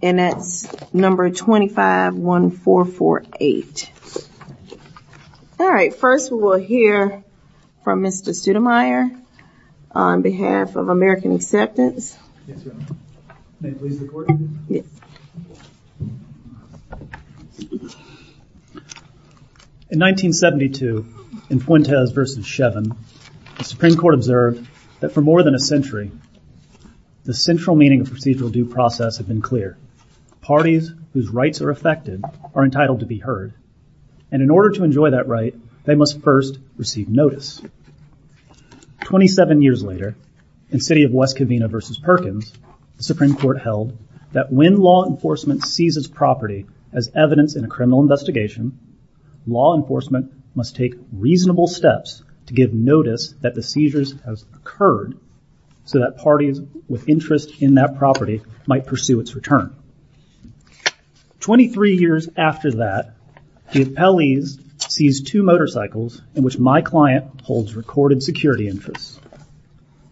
and that's number 251448. All right, first we will hear from Mr. Studemeier on behalf of American Acceptance. In 1972, in Fuentes v. Shevin, the Supreme Court observed that for more than a century, the central meaning of procedural due process had been clear. Parties whose rights are affected are entitled to be heard, and in order to enjoy that right, they must first receive notice. Twenty-seven years later, in City of West Covina v. Perkins, the Supreme Court held that when law enforcement seizes property as evidence in a criminal investigation, law enforcement must take reasonable steps to give notice that the seizures have occurred so that parties with interest in that property might pursue its return. Twenty-three years after that, the appellees seized two motorcycles in which my client holds recorded security interests.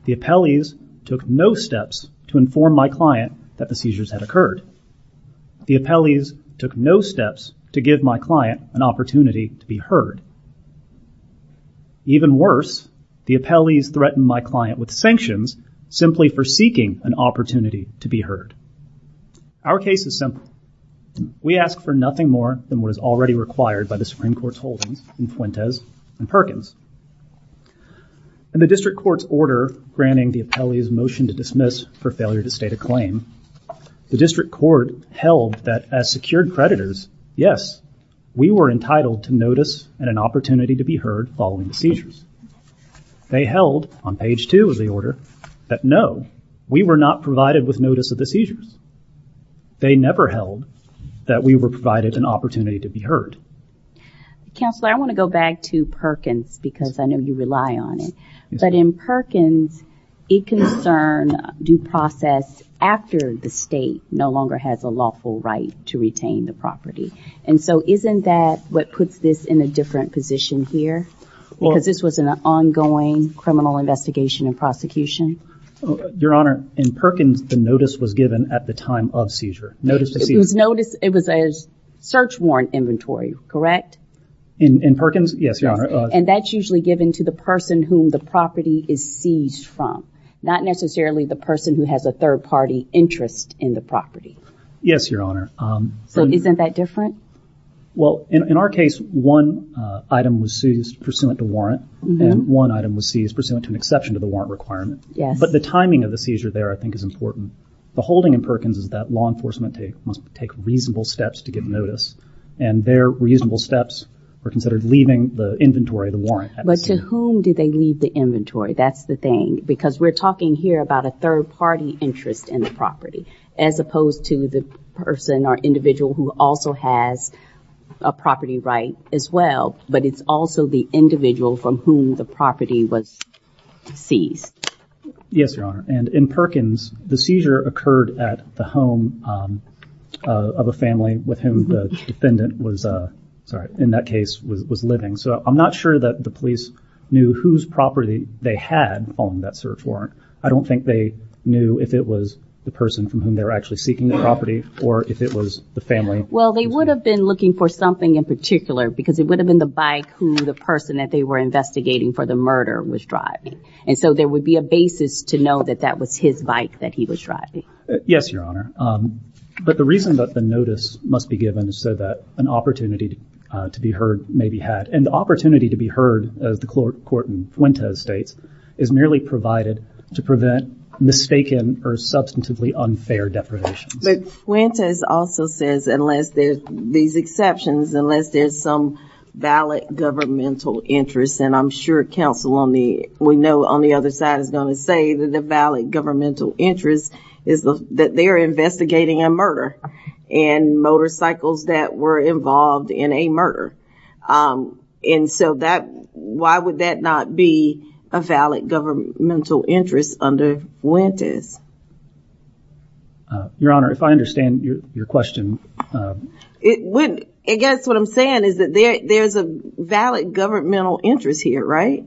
The appellees took no steps to inform my client that the seizures had occurred. The appellees took no steps to give my client an opportunity to be heard. Even worse, the appellees threatened my client with sanctions simply for seeking an opportunity to be heard. Our case is simple. We ask for nothing more than what is already required by the Supreme Court's holdings in Fuentes v. Perkins. In the District Court's order granting the appellees motion to dismiss for failure to state a claim, the District Court held that as secured creditors, yes, we were entitled to notice and an opportunity to be heard following the seizures. They held, on page two of the order, that no, we were not provided with notice of the seizures. They never held that we were provided an opportunity to be heard. Counselor, I want to go back to Perkins because I know you rely on it. But in Perkins, it concerned due process after the state no longer has a lawful right to retain the property. And so isn't that what puts this in a different position here? Because this was an ongoing criminal investigation and prosecution? Your Honor, in Perkins, the notice was given at the time of seizure. It was a search warrant inventory, correct? In Perkins, yes, Your Honor. And that's usually given to the person whom the property is seized from, not necessarily the person who has a third-party interest in the property. Yes, Your Honor. So isn't that different? Well, in our case, one item was seized pursuant to warrant, and one item was seized pursuant to an exception to the warrant requirement. But the timing of the seizure there, I think, is important. The holding in Perkins is that law enforcement must take reasonable steps to give notice. And their reasonable steps are considered leaving the inventory, the warrant. But to whom did they leave the inventory? That's the thing. Because we're talking here about a third-party interest in the property, as opposed to the person or individual who also has a property right as well, but it's also the individual from whom the property was seized. Yes, Your Honor. And in Perkins, the seizure occurred at the home of a family with whom the defendant was, sorry, in that case, was living. So I'm not sure that the police knew whose property they had on that search warrant. I don't think they knew if it was the person from whom they were actually seeking the property or if it was the family. Well, they would have been looking for something in particular because it would have been the bike who the person that they were investigating for the murder was driving. And so there would be a basis to know that that was his bike that he was driving. Yes, Your Honor. But the reason that the notice must be given is so that an opportunity to be heard may be had. And the opportunity to be heard, as the court in Fuentes states, is merely provided to prevent mistaken or substantively unfair deprivations. But Fuentes also says unless there's these exceptions, unless there's some valid governmental interest, and I'm sure counsel on the other side is going to say that the valid governmental interest is that they're investigating a murder and motorcycles that were involved in a murder. And so why would that not be a valid governmental interest under Fuentes? Your Honor, if I understand your question. I guess what I'm saying is that there's a valid governmental interest here, right?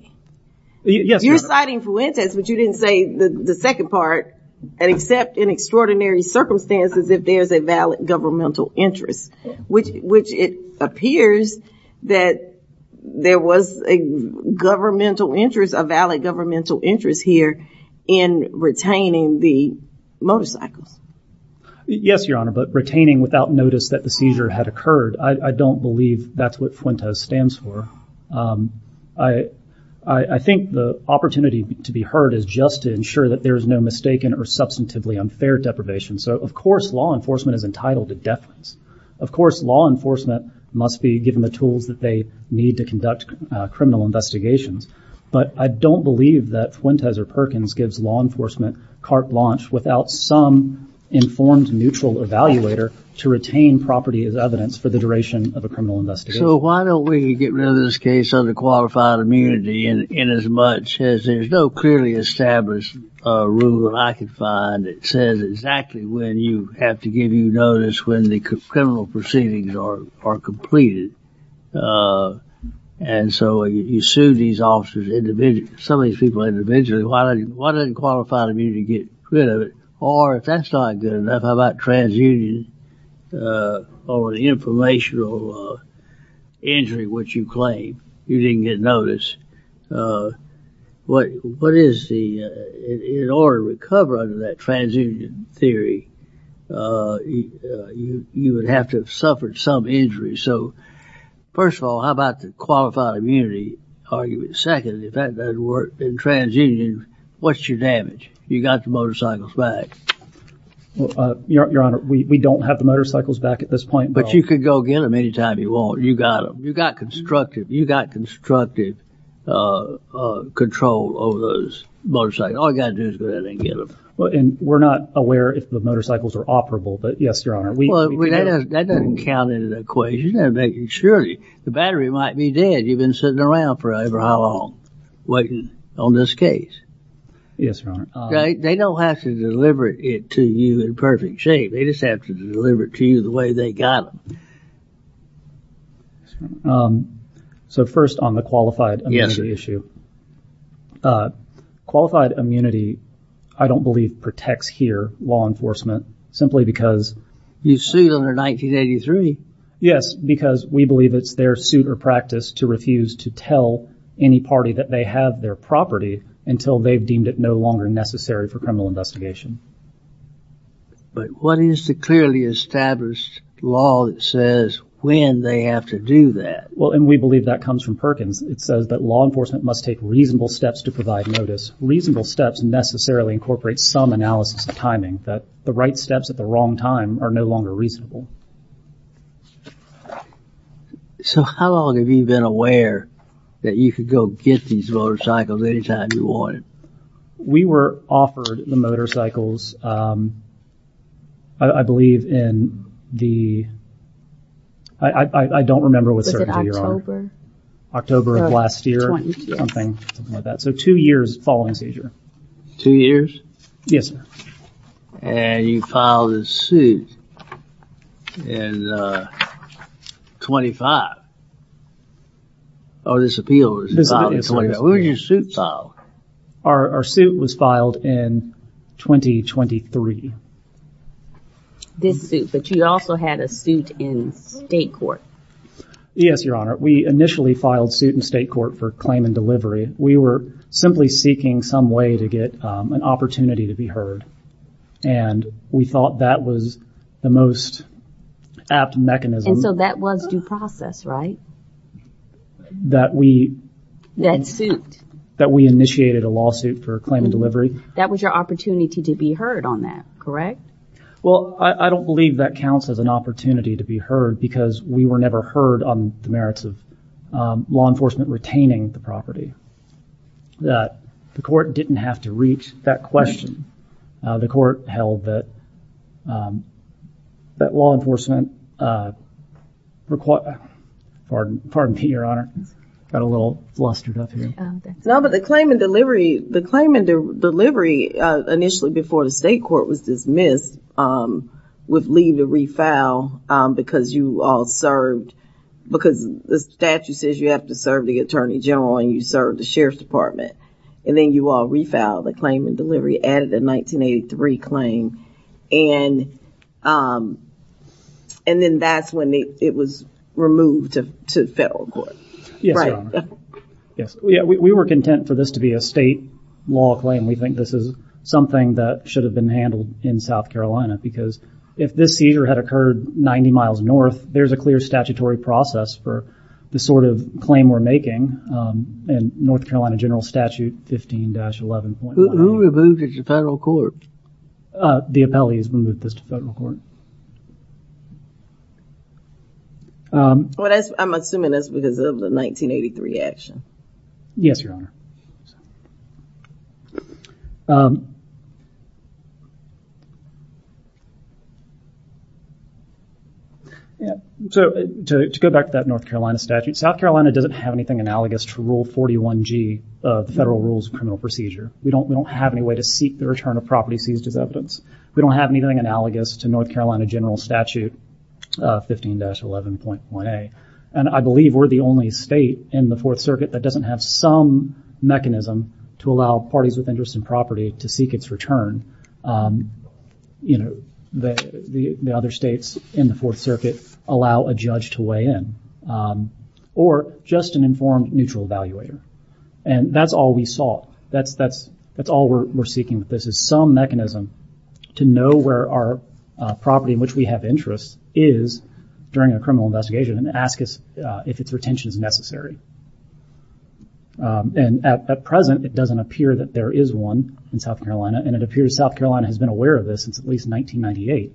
Yes, Your Honor. You're citing Fuentes, but you didn't say the second part, except in extraordinary circumstances if there's a valid governmental interest, which it appears that there was a governmental interest, a valid governmental interest here in retaining the motorcycles. Yes, Your Honor, but retaining without notice that the seizure had occurred, I don't believe that's what Fuentes stands for. I think the opportunity to be heard is just to ensure that there's no mistaken or substantively unfair deprivation. So, of course, law enforcement is entitled to deference. Of course, law enforcement must be given the tools that they need to conduct criminal investigations. But I don't believe that Fuentes or Perkins gives law enforcement carte blanche without some informed neutral evaluator to retain property as evidence for the duration of a criminal investigation. So why don't we get rid of this case under qualified immunity inasmuch as there's no clearly established rule that I can find that says exactly when you have to give you notice when the criminal proceedings are completed. And so you sue these officers individually, some of these people individually, why doesn't qualified immunity get rid of it? Or if that's not good enough, how about transunion or the informational injury, which you claim you didn't get notice? In order to recover under that transunion theory, you would have to have suffered some injury. So, first of all, how about the qualified immunity argument? Second, if that doesn't work in transunion, what's your damage? You got the motorcycles back. Your Honor, we don't have the motorcycles back at this point. But you could go get them any time you want. You got them. You got constructive control over those motorcycles. All you got to do is go ahead and get them. And we're not aware if the motorcycles are operable, but yes, Your Honor. Well, that doesn't count as an equation. Surely, the battery might be dead. You've been sitting around for however long waiting on this case. Yes, Your Honor. They don't have to deliver it to you in perfect shape. They just have to deliver it to you the way they got it. So, first on the qualified immunity issue. Qualified immunity, I don't believe, protects here law enforcement simply because... You sued under 1983. Yes, because we believe it's their suit or practice to refuse to tell any party that they have their property until they've deemed it no longer necessary for criminal investigation. But what is the clearly established law that says when they have to do that? Well, and we believe that comes from Perkins. It says that law enforcement must take reasonable steps to provide notice. Reasonable steps necessarily incorporate some analysis of timing. That the right steps at the wrong time are no longer reasonable. So, how long have you been aware that you could go get these motorcycles anytime you wanted? We were offered the motorcycles, I believe, in the... I don't remember with certainty, Your Honor. October of last year. Something like that. So, two years following seizure. Two years? Yes, sir. And you filed a suit in 25. Oh, this appeal was filed in... Where was your suit filed? Our suit was filed in 2023. This suit, but you also had a suit in state court. Yes, Your Honor. We initially filed suit in state court for claim and delivery. We were simply seeking some way to get an opportunity to be heard. And we thought that was the most apt mechanism. And so that was due process, right? That we... That suit. That we initiated a lawsuit for claim and delivery. That was your opportunity to be heard on that, correct? Well, I don't believe that counts as an opportunity to be heard because we were never heard on the merits of law enforcement retaining the property. The court didn't have to reach that question. The court held that law enforcement... Pardon me, Your Honor. Got a little flustered up here. No, but the claim and delivery... The claim and delivery initially before the state court was dismissed would leave a refile because you all served... Because the statute says you have to serve the attorney general and you served the sheriff's department. And then you all refiled the claim and delivery, added a 1983 claim. And... And then that's when it was removed to federal court. Yes, Your Honor. Yes, we were content for this to be a state law claim. We think this is something that should have been handled in South Carolina because if this seizure had occurred 90 miles north, there's a clear statutory process for the sort of claim we're making. And North Carolina general statute 15-11... Who removed this to federal court? The appellee has removed this to federal court. I'm assuming that's because of the 1983 action. Yes, Your Honor. So to go back to that North Carolina statute, South Carolina doesn't have anything analogous to Rule 41G of the Federal Rules of Criminal Procedure. We don't have any way to seek the return of property seized as evidence. We don't have anything analogous to North Carolina general statute 15-11.1a. And I believe we're the only state in the Fourth Circuit that doesn't have some mechanism to allow parties with interest in property to seek its return. The other states in the Fourth Circuit allow a judge to weigh in. Or just an informed neutral evaluator. And that's all we sought. That's all we're seeking with this is some mechanism to know where our property in which we have interest is during a criminal investigation and ask us if its retention is necessary. And at present, it doesn't appear that there is one in South Carolina. And it appears South Carolina has been aware of this since at least 1998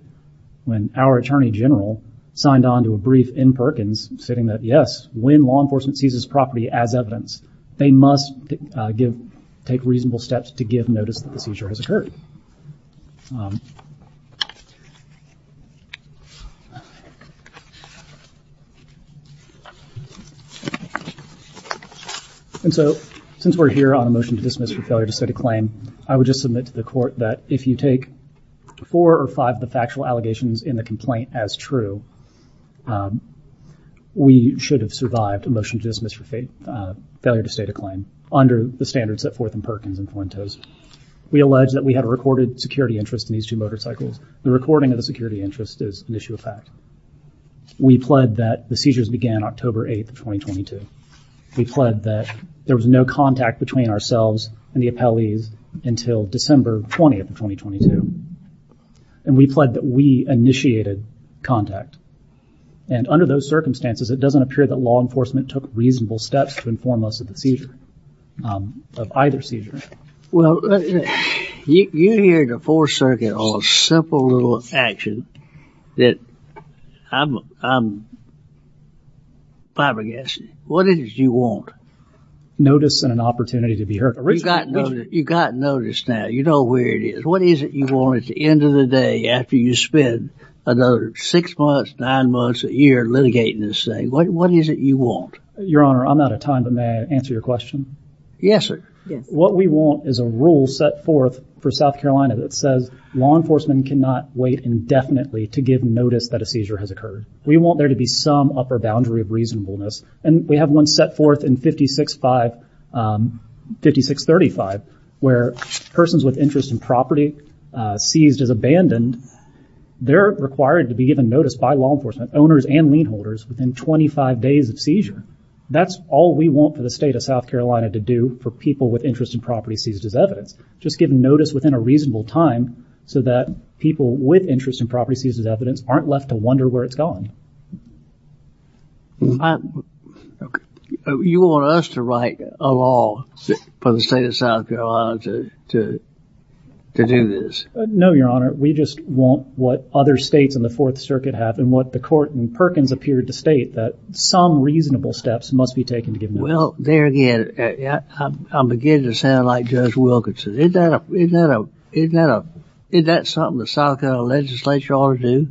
when our attorney general signed on to a brief in Perkins stating that, yes, when law enforcement seizes property as evidence, they must take reasonable steps to give notice that the seizure has occurred. And so, since we're here on a motion to dismiss for failure to state a claim, I would just submit to the court that if you take four or five of the factual allegations in the complaint as true, we should have survived a motion to dismiss for failure to state a claim under the standards set forth in Perkins and Fuentes. We allege that we had a recorded security interest in these two motorcycles. The recording of the security interest is an issue of fact. We pled that the seizures began October 8, 2022. We pled that there was no contact between ourselves and the appellees until December 20, 2022. And we pled that we initiated contact. And under those circumstances, it doesn't appear that law enforcement took reasonable steps to inform us of the seizure, of either seizure. Notice and an opportunity to be heard. After you spend another six months, nine months, a year litigating this thing, what is it you want? Your Honor, I'm out of time, but may I answer your question? Yes, sir. What we want is a rule set forth for South Carolina that says law enforcement cannot wait indefinitely to give notice that a seizure has occurred. We want there to be some upper boundary of reasonableness. And we have one set forth in 5635, where persons with interest in property seized as abandoned, they're required to be given notice by law enforcement, owners and lien holders, within 25 days of seizure. That's all we want for the state of South Carolina to do for people with interest in property seized as evidence. Just give notice within a reasonable time so that people with interest in property seized as evidence aren't left to wonder where it's gone. You want us to write a law for the state of South Carolina to do this? No, Your Honor. We just want what other states in the Fourth Circuit have and what the court in Perkins appeared to state, that some reasonable steps must be taken to give notice. Well, there again, I'm beginning to sound like Judge Wilkinson. Isn't that something the South Carolina legislature ought to do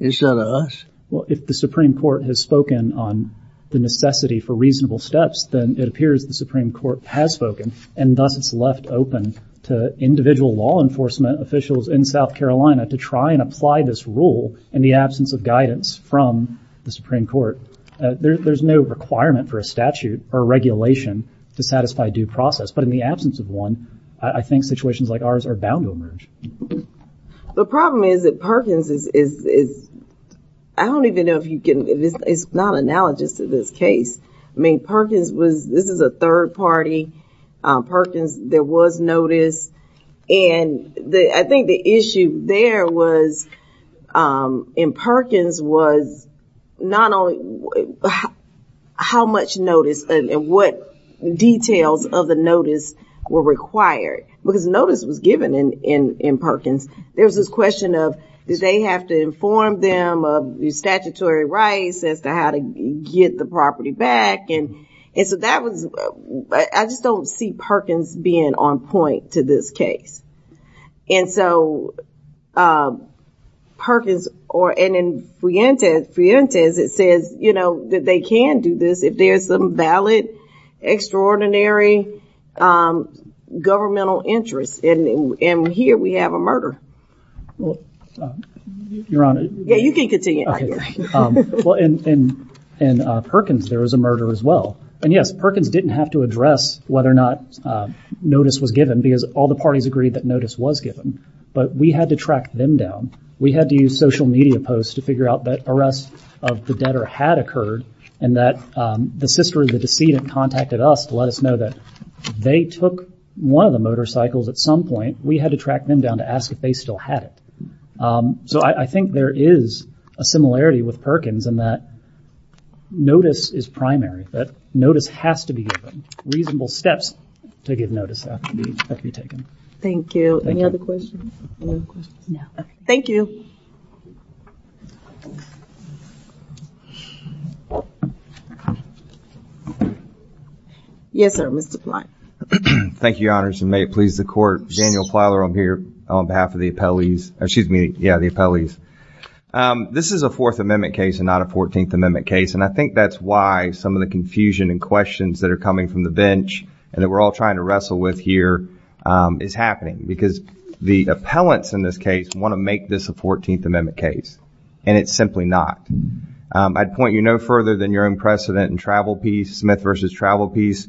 instead of us? Well, if the Supreme Court has spoken on the necessity for reasonable steps, then it appears the Supreme Court has spoken, and thus it's left open to individual law enforcement officials in South Carolina to try and apply this rule in the absence of guidance from the Supreme Court. There's no requirement for a statute or regulation to satisfy due process. But in the absence of one, I think situations like ours are bound to emerge. The problem is that Perkins is, I don't even know if you can, it's not analogous to this case. I mean, Perkins was, this is a third party. Perkins, there was notice. And I think the issue there was in Perkins was not only how much notice and what details of the notice were required, because notice was given in Perkins. There was this question of, did they have to inform them of the statutory rights as to how to get the property back? And so that was, I just don't see Perkins being on point to this case. And so Perkins, and in Frientes, it says that they can do this if there's some valid, extraordinary governmental interest. And here we have a murder. Your Honor. Yeah, you can continue. In Perkins, there was a murder as well. And yes, Perkins didn't have to address whether or not notice was given because all the parties agreed that notice was given. But we had to track them down. We had to use social media posts to figure out that arrest of the debtor had occurred and that the sister of the decedent contacted us to let us know that they took one of the motorcycles at some point. We had to track them down to ask if they still had it. So I think there is a similarity with Perkins in that notice is primary, that notice has to be given. Reasonable steps to give notice have to be taken. Thank you. Any other questions? No. Thank you. Yes, sir. Mr. Plot. Thank you, Your Honors, and may it please the Court. Daniel Plowler, I'm here on behalf of the appellees. Excuse me. Yeah, the appellees. This is a Fourth Amendment case and not a Fourteenth Amendment case, and I think that's why some of the confusion and questions that are coming from the bench and that we're all trying to wrestle with here is happening because the appellants in this case want to make this a Fourteenth Amendment case, and it's simply not. I'd point you no further than your own precedent in Travel Peace, Smith v. Travel Peace,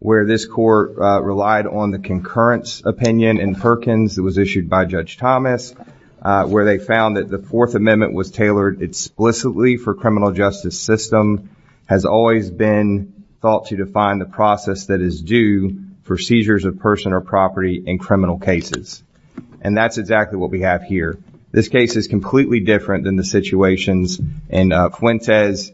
where this Court relied on the concurrence opinion in Perkins that was issued by Judge Thomas where they found that the Fourth Amendment was tailored explicitly for criminal justice system, has always been thought to define the process that is due for seizures of person or property in criminal cases, and that's exactly what we have here. This case is completely different than the situations in Fuentes,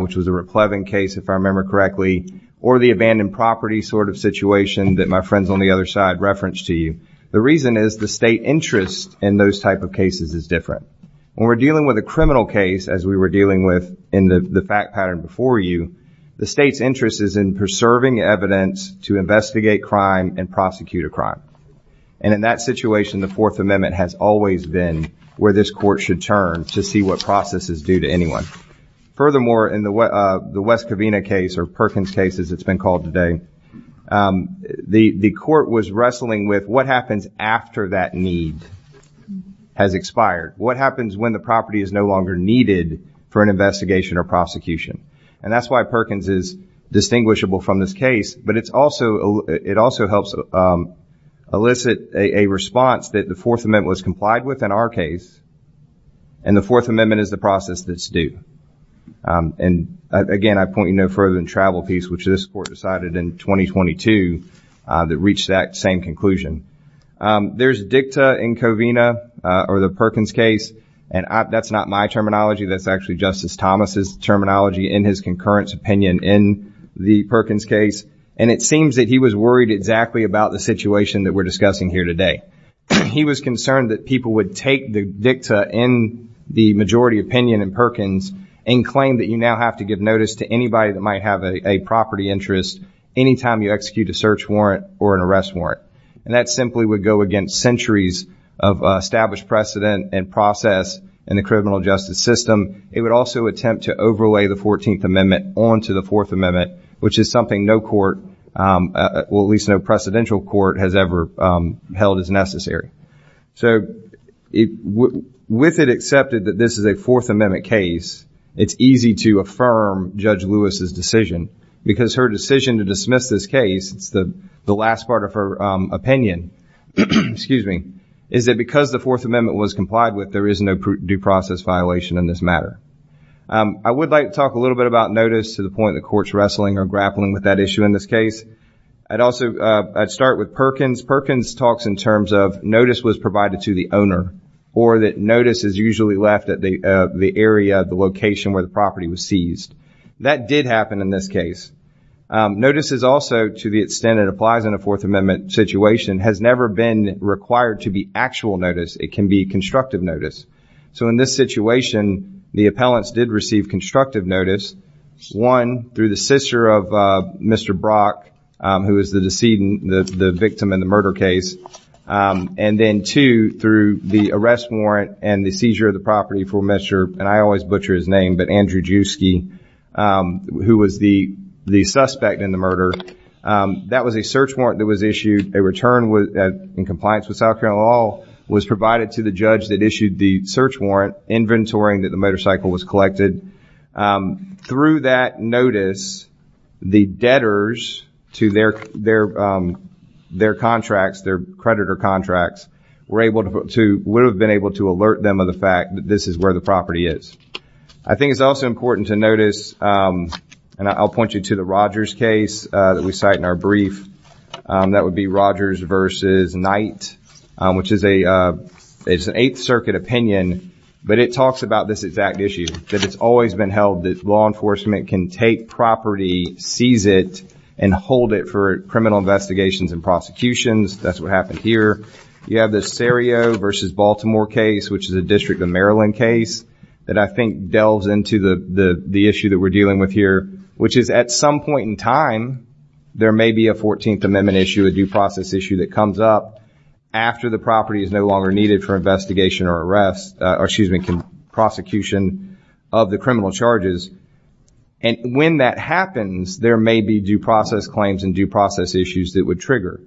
which was a Raplevin case, if I remember correctly, or the abandoned property sort of situation that my friends on the other side referenced to you. The reason is the state interest in those type of cases is different. When we're dealing with a criminal case, as we were dealing with in the fact pattern before you, the state's interest is in preserving evidence to investigate crime and prosecute a crime. And in that situation, the Fourth Amendment has always been where this Court should turn to see what process is due to anyone. Furthermore, in the West Covina case or Perkins case, as it's been called today, the Court was wrestling with what happens after that need has expired. What happens when the property is no longer needed for an investigation or prosecution? And that's why Perkins is distinguishable from this case, but it also helps elicit a response that the Fourth Amendment was complied with in our case, and the Fourth Amendment is the process that's due. And, again, I point you no further than Travel Peace, which this Court decided in 2022 that reached that same conclusion. There's dicta in Covina or the Perkins case, and that's not my terminology. That's actually Justice Thomas' terminology in his concurrence opinion in the Perkins case, and it seems that he was worried exactly about the situation that we're discussing here today. He was concerned that people would take the dicta in the majority opinion in Perkins and claim that you now have to give notice to anybody that might have a property interest anytime you execute a search warrant or an arrest warrant. And that simply would go against centuries of established precedent and process in the criminal justice system. It would also attempt to overlay the Fourteenth Amendment onto the Fourth Amendment, which is something no court, well at least no precedential court has ever held as necessary. So with it accepted that this is a Fourth Amendment case, it's easy to affirm Judge Lewis' decision, because her decision to dismiss this case, the last part of her opinion, excuse me, is that because the Fourth Amendment was complied with, there is no due process violation in this matter. I would like to talk a little bit about notice to the point the court's wrestling or grappling with that issue in this case. I'd also start with Perkins. Perkins talks in terms of notice was provided to the owner, or that notice is usually left at the area, the location where the property was seized. That did happen in this case. Notice is also, to the extent it applies in a Fourth Amendment situation, has never been required to be actual notice. It can be constructive notice. So in this situation, the appellants did receive constructive notice. One, through the sister of Mr. Brock, who is the victim in the murder case. And then two, through the arrest warrant and the seizure of the property for Mr., and I always butcher his name, but Andrew Juski, who was the suspect in the murder. That was a search warrant that was issued. A return in compliance with South Carolina law was provided to the judge that issued the search warrant, inventorying that the motorcycle was collected. Through that notice, the debtors to their contracts, their creditor contracts, were able to, would have been able to alert them of the fact that this is where the property is. I think it's also important to notice, and I'll point you to the Rogers case that we cite in our brief. That would be Rogers versus Knight, which is an Eighth Circuit opinion, but it talks about this exact issue. That it's always been held that law enforcement can take property, seize it, and hold it for criminal investigations and prosecutions. That's what happened here. You have the Sarrio versus Baltimore case, which is a District of Maryland case, that I think delves into the issue that we're dealing with here, which is at some point in time, there may be a 14th Amendment issue, a due process issue that comes up after the property is no longer needed for investigation or arrest, or excuse me, prosecution of the criminal charges. When that happens, there may be due process claims and due process issues that would trigger.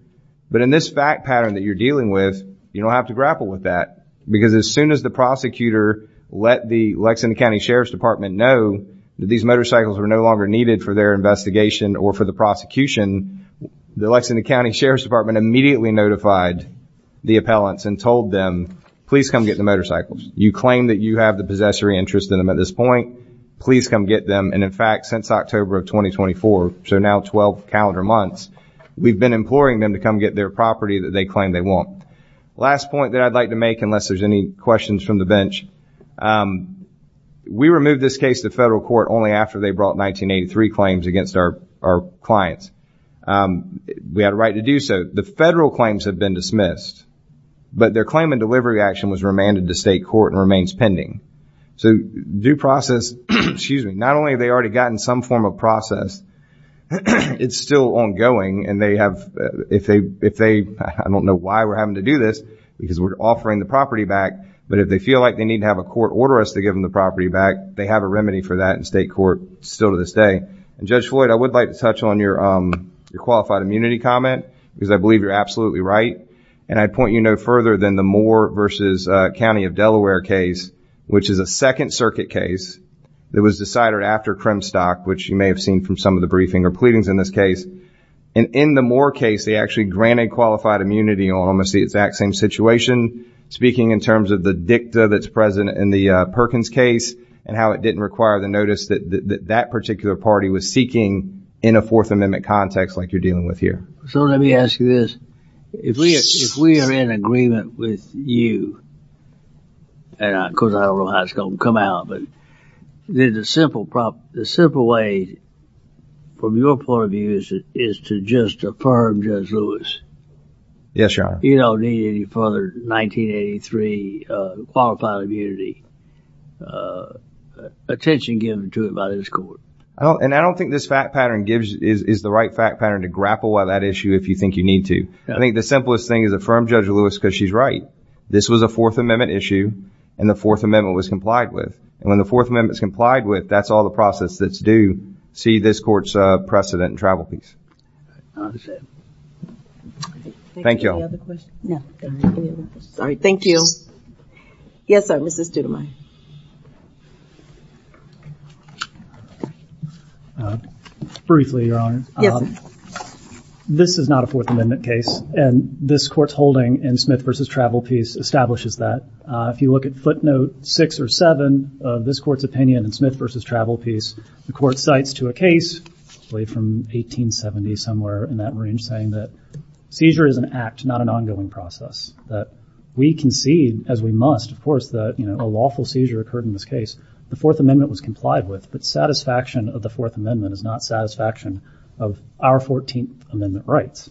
But in this fact pattern that you're dealing with, you don't have to grapple with that because as soon as the prosecutor let the Lexington County Sheriff's Department know that these motorcycles were no longer needed for their investigation or for the prosecution, the Lexington County Sheriff's Department immediately notified the appellants and told them, please come get the motorcycles. You claim that you have the possessory interest in them at this point. Please come get them. In fact, since October of 2024, so now 12 calendar months, we've been imploring them to come get their property that they claim they want. Last point that I'd like to make, unless there's any questions from the bench, we removed this case to federal court only after they brought 1983 claims against our clients. We had a right to do so. The federal claims have been dismissed, but their claimant delivery action was remanded to state court and remains pending. So due process, not only have they already gotten some form of process, it's still ongoing, and if they, I don't know why we're having to do this, because we're offering the property back, but if they feel like they need to have a court order us to give them the property back, they have a remedy for that in state court still to this day. And Judge Floyd, I would like to touch on your qualified immunity comment, because I believe you're absolutely right. And I'd point you no further than the Moore versus County of Delaware case, which is a Second Circuit case that was decided after Kremstock, which you may have seen from some of the briefing or pleadings in this case. And in the Moore case, they actually granted qualified immunity on almost the exact same situation, speaking in terms of the dicta that's present in the Perkins case and how it didn't require the notice that that particular party was seeking in a Fourth Amendment context like you're dealing with here. So let me ask you this. If we are in agreement with you, and of course I don't know how it's going to come out, but the simple way, from your point of view, is to just affirm Judge Lewis. Yes, Your Honor. You don't need any further 1983 qualified immunity attention given to it by this court. And I don't think this fact pattern is the right fact pattern to grapple with that issue if you think you need to. I think the simplest thing is affirm Judge Lewis because she's right. This was a Fourth Amendment issue, and the Fourth Amendment was complied with. And when the Fourth Amendment is complied with, that's all the process that's due. See this court's precedent in travel peace. Thank you. Any other questions? Thank you. Yes, sir, Mrs. Studemeyer. Briefly, Your Honor. This is not a Fourth Amendment case, and this court's holding in Smith v. Travel Peace establishes that. If you look at footnote six or seven of this court's opinion in Smith v. Travel Peace, the court cites to a case, probably from 1870, somewhere in that range, saying that seizure is an act, not an ongoing process, that we concede, as we must, of course, that a lawful seizure occurred in this case. The Fourth Amendment was complied with, but satisfaction of the Fourth Amendment is not satisfaction of our 14th Amendment rights.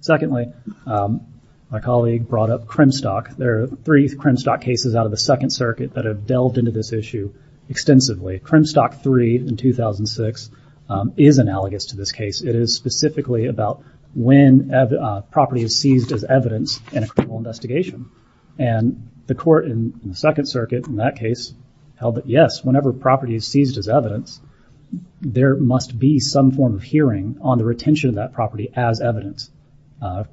Secondly, my colleague brought up Crimstock. There are three Crimstock cases out of the Second Circuit that have delved into this issue extensively. Crimstock III in 2006 is analogous to this case. It is specifically about when property is seized as evidence in a criminal investigation, and the court in the Second Circuit in that case held that, yes, whenever property is seized as evidence, there must be some form of hearing on the retention of that property as evidence.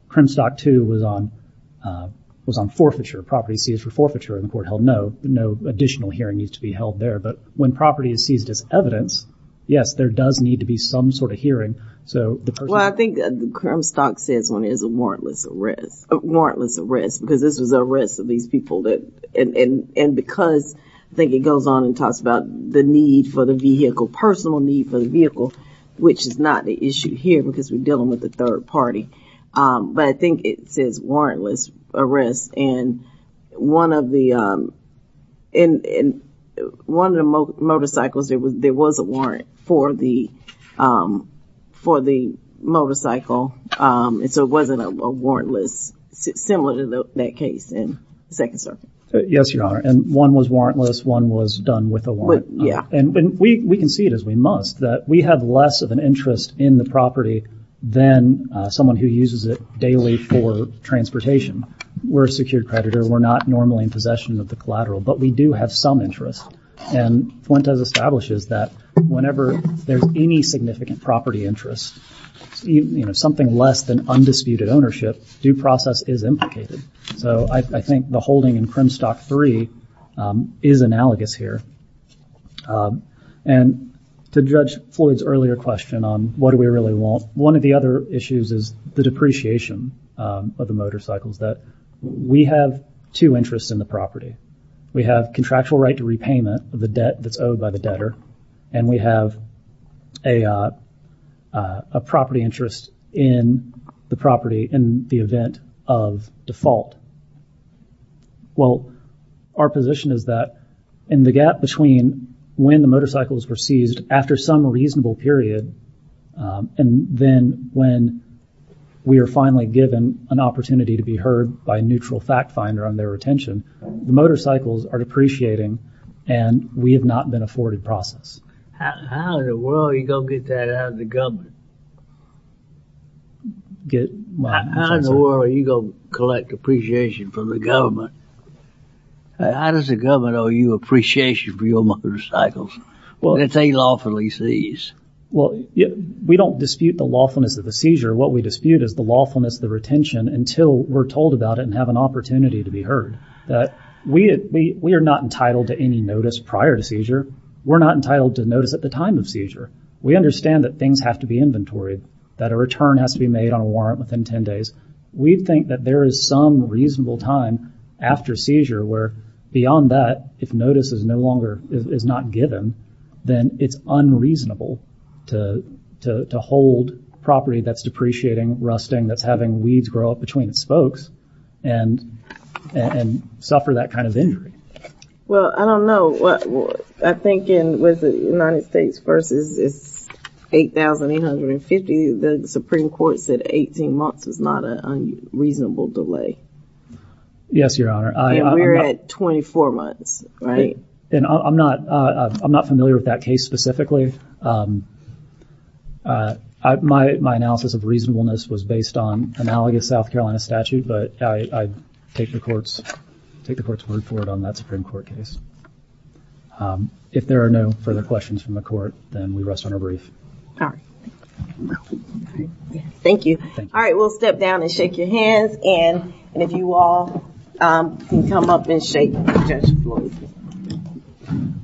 Crimstock II was on forfeiture, property seized for forfeiture, and the court held no, no additional hearing needs to be held there, but when property is seized as evidence, yes, there does need to be some sort of hearing. Well, I think that Crimstock says when there's a warrantless arrest, because this was an arrest of these people, and because I think it goes on and talks about the need for the vehicle, personal need for the vehicle, which is not the issue here because we're dealing with a third party, but I think it says warrantless arrest, and one of the motorcycles, there was a warrant for the motorcycle, and so it wasn't a warrantless, similar to that case in the Second Circuit. Yes, Your Honor, and one was warrantless, one was done with a warrant, and we can see it as we must, that we have less of an interest in the property than someone who uses it daily for transportation. We're a secured creditor. We're not normally in possession of the collateral, but we do have some interest, and Fuentes establishes that whenever there's any significant property interest, something less than undisputed ownership, due process is implicated, so I think the holding in Crimstock 3 is analogous here, and to judge Floyd's earlier question on what do we really want, one of the other issues is the depreciation of the motorcycles, that we have two interests in the property. We have contractual right to repayment of the debt that's owed by the debtor, and we have a property interest in the property in the event of default. Well, our position is that in the gap between when the motorcycles were seized after some reasonable period, and then when we are finally given an opportunity to be heard by a neutral fact finder on their retention, the motorcycles are depreciating, and we have not been afforded process. How in the world are you going to get that out of the government? How in the world are you going to collect appreciation from the government? How does the government owe you appreciation for your motorcycles? It's unlawfully seized. We don't dispute the lawfulness of the seizure. What we dispute is the lawfulness of the retention until we're told about it and have an opportunity to be heard. We are not entitled to any notice prior to seizure. We're not entitled to notice at the time of seizure. We understand that things have to be inventoried, that a return has to be made on a warrant within 10 days. We think that there is some reasonable time after seizure where beyond that, if notice is not given, then it's unreasonable to hold property that's depreciating, rusting, that's having weeds grow up between its spokes and suffer that kind of injury. Well, I don't know. I think with the United States versus 8,850, the Supreme Court said 18 months is not a reasonable delay. Yes, Your Honor. And we're at 24 months, right? And I'm not familiar with that case specifically. My analysis of reasonableness was based on analogous South Carolina statute, but I take the Court's word for it on that Supreme Court case. If there are no further questions from the Court, then we rest on our brief. All right. Thank you. All right, we'll step down and shake your hands. And if you all can come up and shake Judge Floyd's hand.